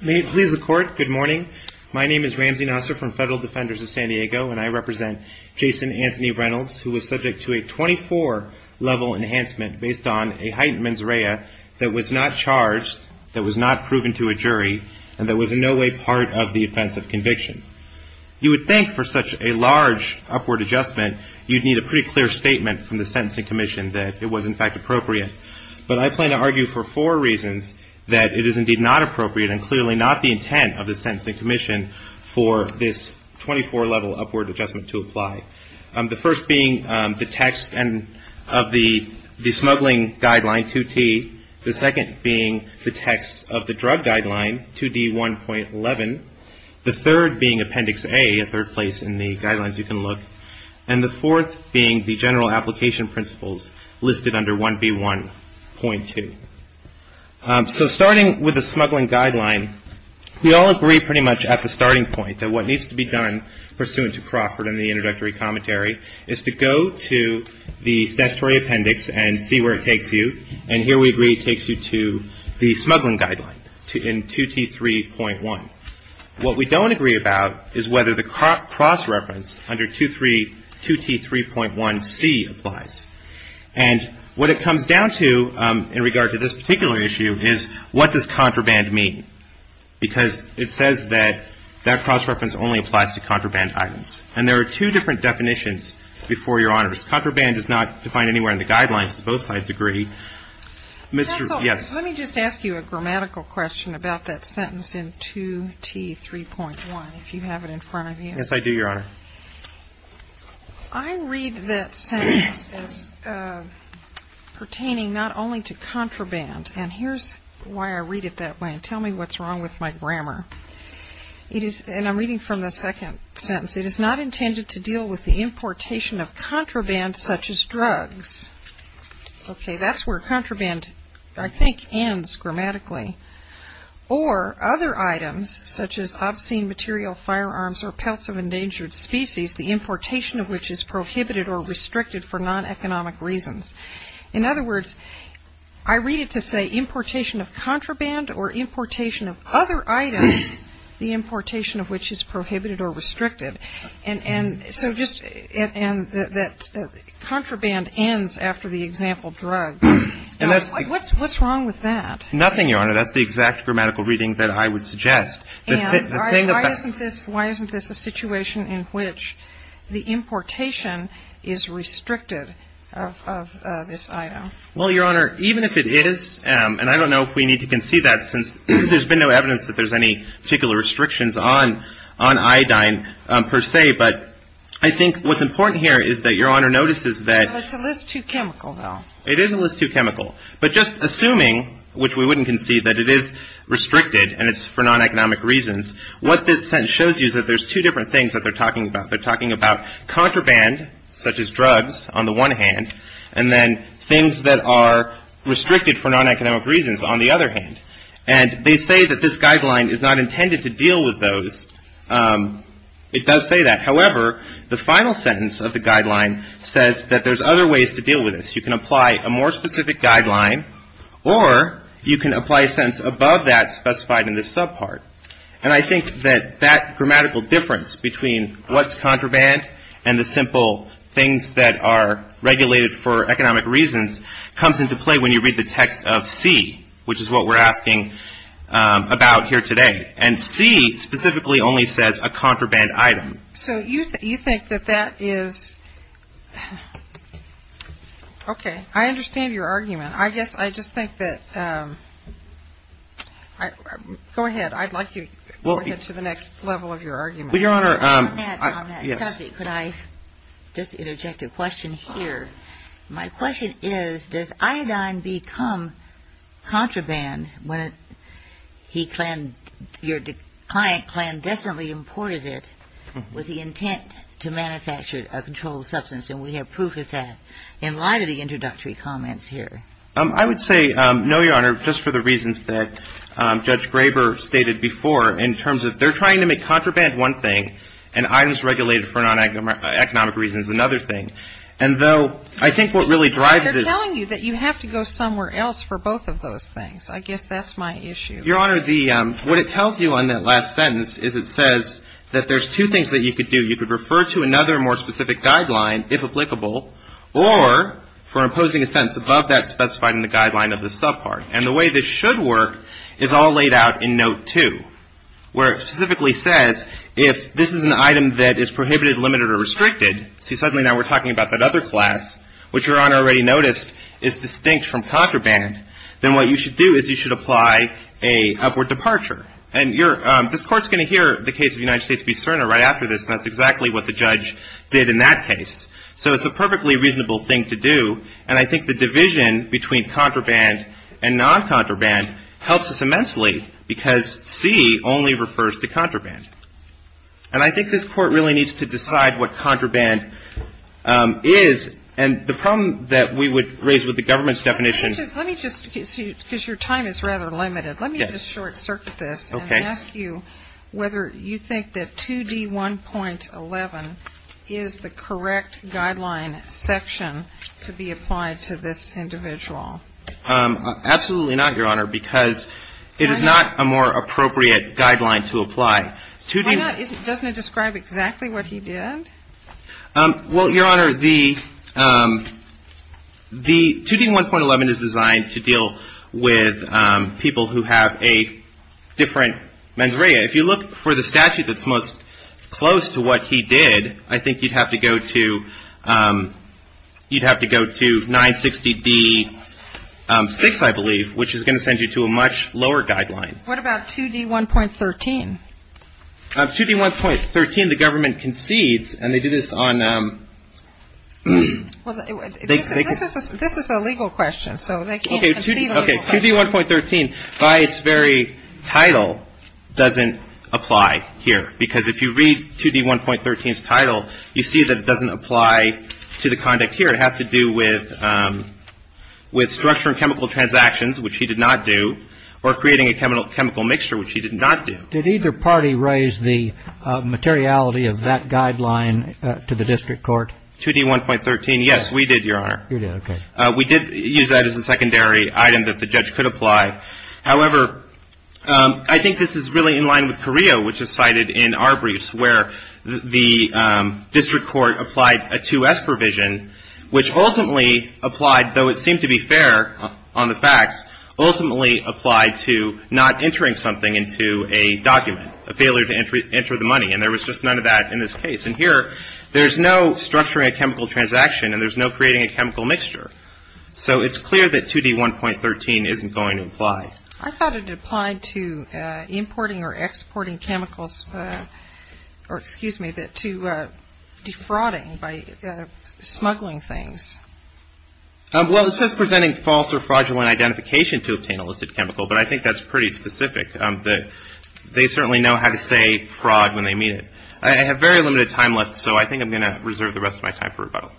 May it please the Court, good morning. My name is Ramsey Nasser from Federal Defenders of San Diego, and I represent Jason Anthony Reynolds, who was subject to a 24-level enhancement based on a heightened mens rea that was not charged, that was not proven to a jury, and that was in no way part of the offensive case. You would think for such a large upward adjustment you'd need a pretty clear statement from the Sentencing Commission that it was in fact appropriate, but I plan to argue for four reasons that it is indeed not appropriate and clearly not the intent of the Sentencing Commission for this 24-level upward adjustment to apply. The first being the text of the smuggling guideline 2T, the second being the text of the drug guideline 2D1.11, the third being Appendix A, a third place in the guidelines you can look, and the fourth being the general application principles listed under 1B1.2. So starting with the smuggling guideline, we all agree pretty much at the starting point that what needs to be done pursuant to Crawford and the introductory commentary is to go to the statutory appendix and see where it takes you, and here we agree it takes you to the smuggling guideline in 2T3.1. What we don't agree about is whether the cross-reference under 2T3.1C applies, and what it comes down to in regard to this particular issue is what does contraband mean, because it says that that cross-reference only applies to contraband items, and there are two different definitions before Your Honors. Contraband is not defined anywhere in the guidelines. Both sides agree. Mr. Yes. Let me just ask you a grammatical question about that sentence in 2T3.1, if you have it in front of you. Yes, I do, Your Honor. I read that sentence as pertaining not only to contraband, and here's why I read it that way, and tell me what's wrong with my grammar. It is, and I'm reading from the second sentence, it is not intended to deal with the importation of contraband such as drugs. Okay, that's where contraband, I think, ends grammatically, or other items such as obscene material, firearms, or pelts of endangered species, the importation of which is prohibited or restricted for non-economic reasons. In other words, I read it to say importation of contraband or importation of other items, the importation of which is prohibited or restricted. And so just, and that contraband ends after the example drug. What's wrong with that? Nothing, Your Honor. That's the exact grammatical reading that I would suggest. And why isn't this a situation in which the importation is restricted of this item? Well, Your Honor, even if it is, and I don't know if we need to concede that since there's been no evidence that there's any particular restrictions on iodine per se, but I think what's important here is that Your Honor notices that. Well, it's a list too chemical, though. It is a list too chemical. But just assuming, which we wouldn't concede, that it is restricted and it's for non-economic reasons, what this sentence shows you is that there's two different things that they're talking about. They're talking about contraband, such as drugs, on the one hand, and then things that are restricted for non-economic reasons on the other hand. And they say that this guideline is not intended to deal with those. It does say that. However, the final sentence of the guideline says that there's other ways to deal with this. You can apply a more specific guideline or you can apply a sentence above that specified in this subpart. And I think that that grammatical difference between what's contraband and the simple things that are regulated for economic reasons comes into play when you read the text of C, which is what we're asking about here today. And C specifically only says a contraband item. So you think that that is – okay, I understand your argument. I guess I just think that – go ahead. I'd like you to go ahead to the next level of your argument. Well, Your Honor, yes. On that subject, could I just interject a question here? My question is, does iodine become contraband when your client clandestinely imported it with the intent to manufacture a controlled substance? And we have proof of that in light of the introductory comments here. I would say no, Your Honor, just for the reasons that Judge Graber stated before in terms of they're trying to make contraband one thing and items regulated for non-economic reasons another thing. And though I think what really drives this – They're telling you that you have to go somewhere else for both of those things. I guess that's my issue. Your Honor, the – what it tells you on that last sentence is it says that there's two things that you could do. You could refer to another more specific guideline, if applicable, or for imposing a sentence above that specified in the guideline of the subpart. And the way this should work is all laid out in Note 2, where it specifically says if this is an item that is prohibited, limited, or restricted – see, suddenly now we're talking about that other class, which Your Honor already noticed is distinct from contraband – then what you should do is you should apply a upward departure. And you're – this Court's going to hear the case of the United States v. Cerner right after this, and that's exactly what the judge did in that case. So it's a perfectly reasonable thing to do. And I think the division between contraband and non-contraband helps us immensely because C only refers to contraband. And I think this Court really needs to decide what contraband is. And the problem that we would raise with the government's definition – Okay. And ask you whether you think that 2D1.11 is the correct guideline section to be applied to this individual. Absolutely not, Your Honor, because it is not a more appropriate guideline to apply. Why not? Doesn't it describe exactly what he did? Well, Your Honor, the 2D1.11 is designed to deal with people who have a different mens rea. If you look for the statute that's most close to what he did, I think you'd have to go to – you'd have to go to 960D6, I believe, which is going to send you to a much lower guideline. What about 2D1.13? 2D1.13, the government concedes, and they do this on – Well, this is a legal question, so they can't concede a legal question. Okay. 2D1.13, by its very title, doesn't apply here. Because if you read 2D1.13's title, you see that it doesn't apply to the conduct here. It has to do with structure and chemical transactions, which he did not do, or creating a chemical mixture, which he did not do. Did either party raise the materiality of that guideline to the district court? 2D1.13, yes, we did, Your Honor. You did, okay. We did use that as a secondary item that the judge could apply. However, I think this is really in line with Carrillo, which is cited in our briefs, where the district court applied a 2S provision, which ultimately applied, though it seemed to be fair on the facts, ultimately applied to not entering something into a document, a failure to enter the money. And there was just none of that in this case. And here, there's no structuring a chemical transaction, and there's no creating a chemical mixture. So it's clear that 2D1.13 isn't going to apply. I thought it applied to importing or exporting chemicals – or, excuse me, to defrauding by smuggling things. Well, it says presenting false or fraudulent identification to obtain a listed chemical, but I think that's pretty specific. They certainly know how to say fraud when they mean it. I have very limited time left, so I think I'm going to reserve the rest of my time for rebuttal.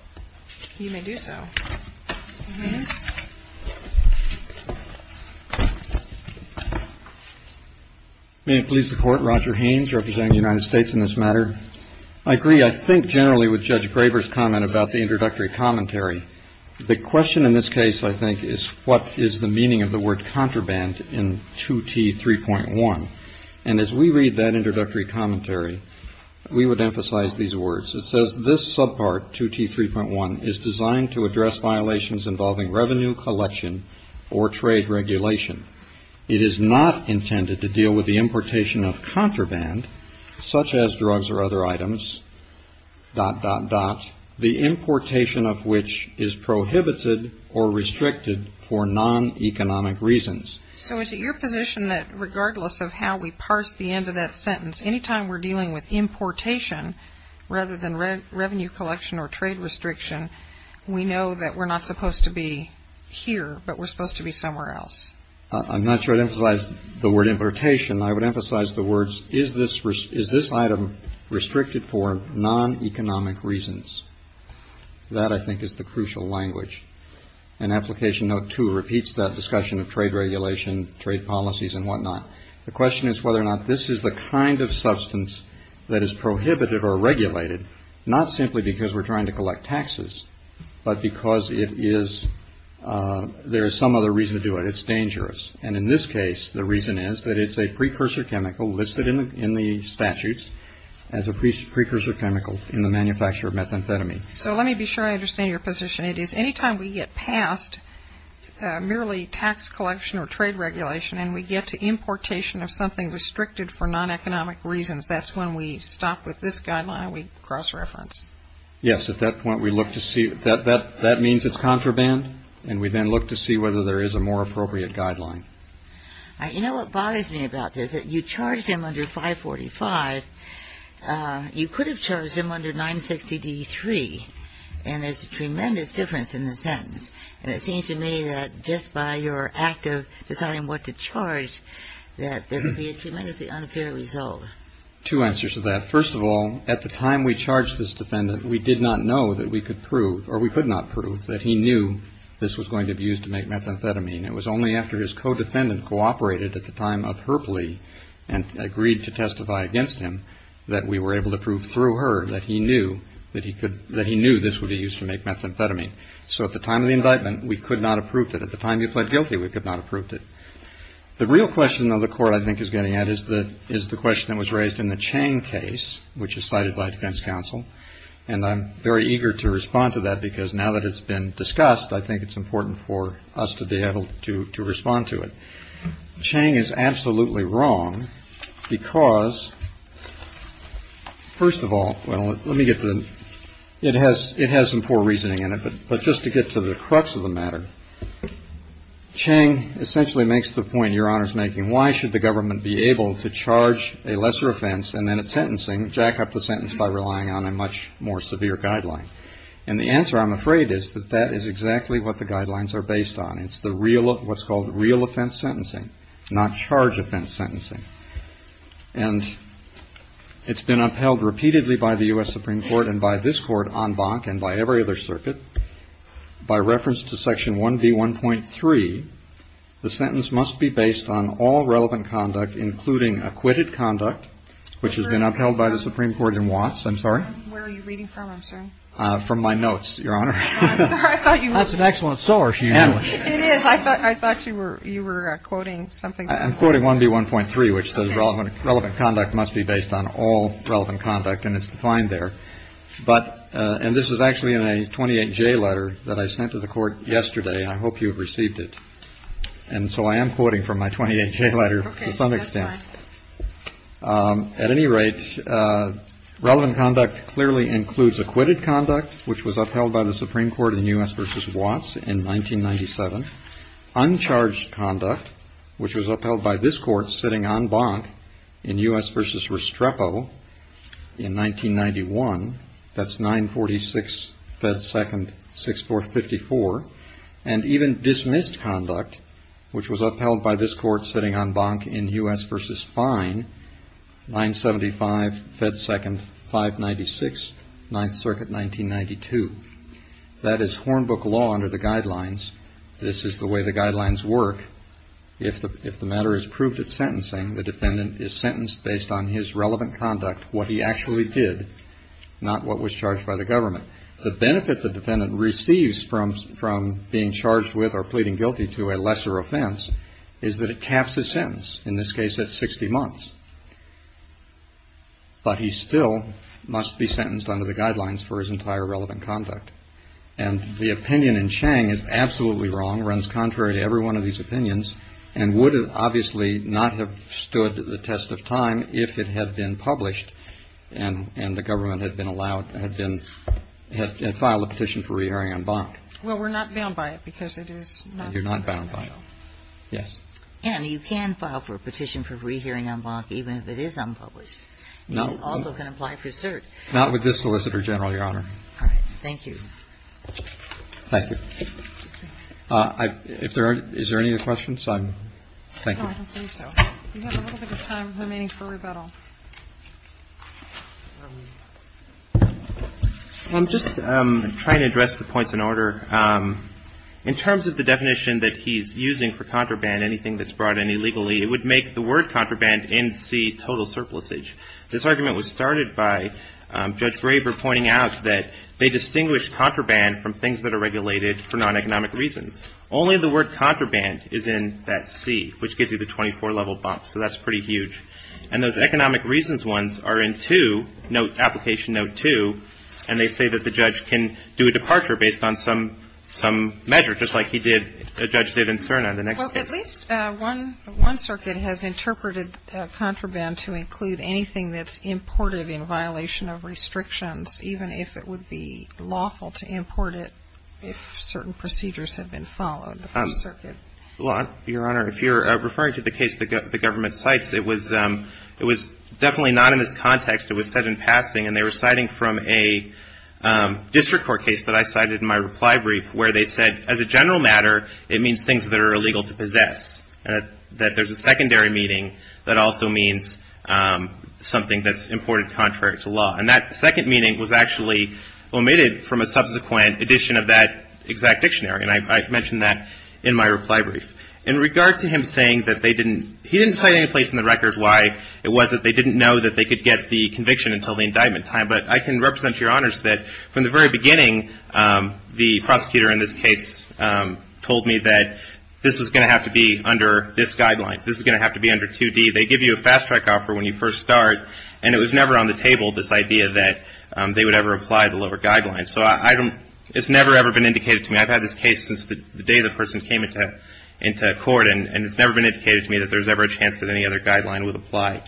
You may do so. May it please the Court, Roger Haynes, representing the United States in this matter. I agree, I think, generally with Judge Graber's comment about the introductory commentary. The question in this case, I think, is what is the meaning of the word contraband in 2T3.1? And as we read that introductory commentary, we would emphasize these words. It says, This subpart, 2T3.1, is designed to address violations involving revenue collection or trade regulation. It is not intended to deal with the importation of contraband, such as drugs or other items, dot, dot, dot, the importation of which is prohibited or restricted for non-economic reasons. So is it your position that regardless of how we parse the end of that sentence, any time we're dealing with importation rather than revenue collection or trade restriction, we know that we're not supposed to be here, but we're supposed to be somewhere else? I'm not sure I'd emphasize the word importation. I would emphasize the words, is this item restricted for non-economic reasons? That, I think, is the crucial language. And Application Note 2 repeats that discussion of trade regulation, trade policies, and whatnot. The question is whether or not this is the kind of substance that is prohibited or regulated, not simply because we're trying to collect taxes, but because there is some other reason to do it. It's dangerous. And in this case, the reason is that it's a precursor chemical listed in the statutes as a precursor chemical in the manufacture of methamphetamine. So let me be sure I understand your position. It is any time we get past merely tax collection or trade regulation and we get to importation of something restricted for non-economic reasons, that's when we stop with this guideline and we cross-reference? Yes. At that point, we look to see. That means it's contraband. And we then look to see whether there is a more appropriate guideline. You know what bothers me about this? You charged him under 545. You could have charged him under 960D3. And there's a tremendous difference in the sentence. And it seems to me that just by your act of deciding what to charge, that there would be a tremendously unfair result. Two answers to that. First of all, at the time we charged this defendant, we did not know that we could prove or we could not prove that he knew this was going to be used to make methamphetamine. It was only after his co-defendant cooperated at the time of her plea and agreed to testify against him that we were able to prove through her that he knew that he could ñ that he knew this would be used to make methamphetamine. So at the time of the indictment, we could not have proved it. At the time he pled guilty, we could not have proved it. The real question, though, the Court, I think, is getting at is the question that was raised in the Chang case, which is cited by defense counsel. And I'm very eager to respond to that because now that it's been discussed, I think it's important for us to be able to respond to it. Chang is absolutely wrong because, first of all, well, let me get to the ñ it has some poor reasoning in it, but just to get to the crux of the matter, Chang essentially makes the point Your Honor is making. Why should the government be able to charge a lesser offense and then a sentencing, jack up the sentence by relying on a much more severe guideline? And the answer, I'm afraid, is that that is exactly what the guidelines are based on. It's the real ñ what's called real offense sentencing, not charge offense sentencing. And it's been upheld repeatedly by the U.S. Supreme Court and by this Court en banc and by every other circuit. By reference to Section 1B1.3, the sentence must be based on all relevant conduct, including acquitted conduct, which has been upheld by the Supreme Court in Watts. I'm sorry? Where are you reading from, I'm sorry? From my notes, Your Honor. I'm sorry. I thought you were ñ That's an excellent source. It is. I thought you were ñ you were quoting something. I'm quoting 1B1.3, which says relevant conduct must be based on all relevant conduct, and it's defined there. But ñ and this is actually in a 28J letter that I sent to the Court yesterday, and I hope you have received it. And so I am quoting from my 28J letter to some extent. Okay. That's fine. At any rate, relevant conduct clearly includes acquitted conduct, which was upheld by the Supreme Court in U.S. v. Watts in 1997, uncharged conduct, which was upheld by this Court sitting en banc in U.S. v. Restrepo in 1991, that's 946 Fed 2nd 6454, and even dismissed conduct, which was upheld by this Court sitting en banc in U.S. v. Fine, 975 Fed 2nd 596, 9th Circuit, 1992. That is Hornbook law under the guidelines. This is the way the guidelines work. If the matter is proved at sentencing, the defendant is sentenced based on his relevant conduct, what he actually did, not what was charged by the government. The benefit the defendant receives from being charged with or pleading guilty to a lesser offense is that it caps his sentence. In this case, that's 60 months. But he still must be sentenced under the guidelines for his entire relevant conduct. And the opinion in Chang is absolutely wrong, runs contrary to every one of these opinions, and would obviously not have stood the test of time if it had been published and the government had been allowed, had been, had filed a petition for re-hearing en banc. Well, we're not bound by it because it is not. You're not bound by it. Yes. And you can file for a petition for re-hearing en banc even if it is unpublished. No. And you also can apply for cert. Not with this solicitor general, Your Honor. All right. Thank you. Thank you. If there are, is there any other questions? I'm, thank you. No, I don't think so. We have a little bit of time remaining for rebuttal. I'm just trying to address the points in order. In terms of the definition that he's using for contraband, anything that's brought in illegally, it would make the word contraband in C total surplusage. This argument was started by Judge Graber pointing out that they distinguish contraband from things that are regulated for non-economic reasons. Only the word contraband is in that C, which gives you the 24-level box, so that's pretty huge. And those economic reasons ones are in 2, application note 2, and they say that the judge can do a departure based on some measure, just like a judge did in Cerna in the next case. Well, at least one circuit has interpreted contraband to include anything that's imported in violation of restrictions, even if it would be lawful to import it if certain procedures have been followed. Your Honor, if you're referring to the case the government cites, it was definitely not in this context. It was said in passing, and they were citing from a district court case that I cited in my reply brief, where they said, as a general matter, it means things that are illegal to possess, that there's a secondary meaning that also means something that's imported contrary to law. And that second meaning was actually omitted from a subsequent edition of that exact dictionary, and I mentioned that in my reply brief. In regard to him saying that they didn't, he didn't cite any place in the record why it wasn't, they didn't know that they could get the conviction until the indictment time, but I can represent to your honors that from the very beginning, the prosecutor in this case told me that this was going to have to be under this guideline. This is going to have to be under 2D. They give you a fast-track offer when you first start, and it was never on the table, this idea that they would ever apply the lower guidelines. So it's never, ever been indicated to me. I've had this case since the day the person came into court, and it's never been indicated to me that there's ever a chance that any other guideline would apply.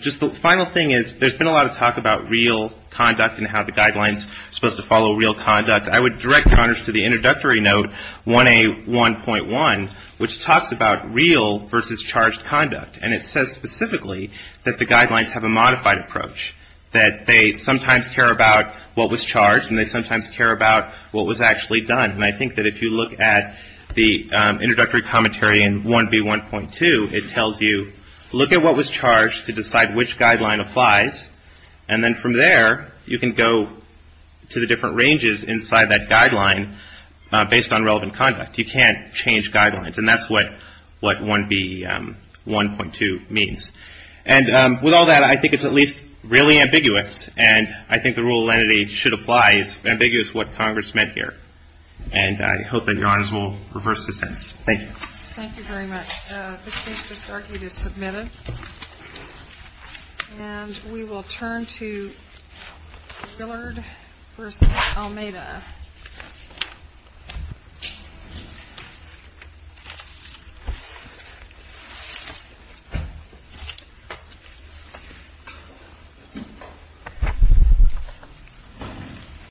Just the final thing is, there's been a lot of talk about real conduct and how the guidelines are supposed to follow real conduct. I would direct your honors to the introductory note 1A1.1, which talks about real versus charged conduct, and it says specifically that the guidelines have a modified approach, that they sometimes care about what was charged and they sometimes care about what was actually done. And I think that if you look at the introductory commentary in 1B1.2, it tells you look at what was charged to decide which guideline applies, and then from there you can go to the different ranges inside that guideline based on relevant conduct. You can't change guidelines, and that's what 1B1.2 means. And with all that, I think it's at least really ambiguous, and I think the rule of lenity should apply. It's ambiguous what Congress meant here. And I hope that your honors will reverse the sentence. Thank you. Thank you very much. The case has argued as submitted. And we will turn to Gillard v. Almeida.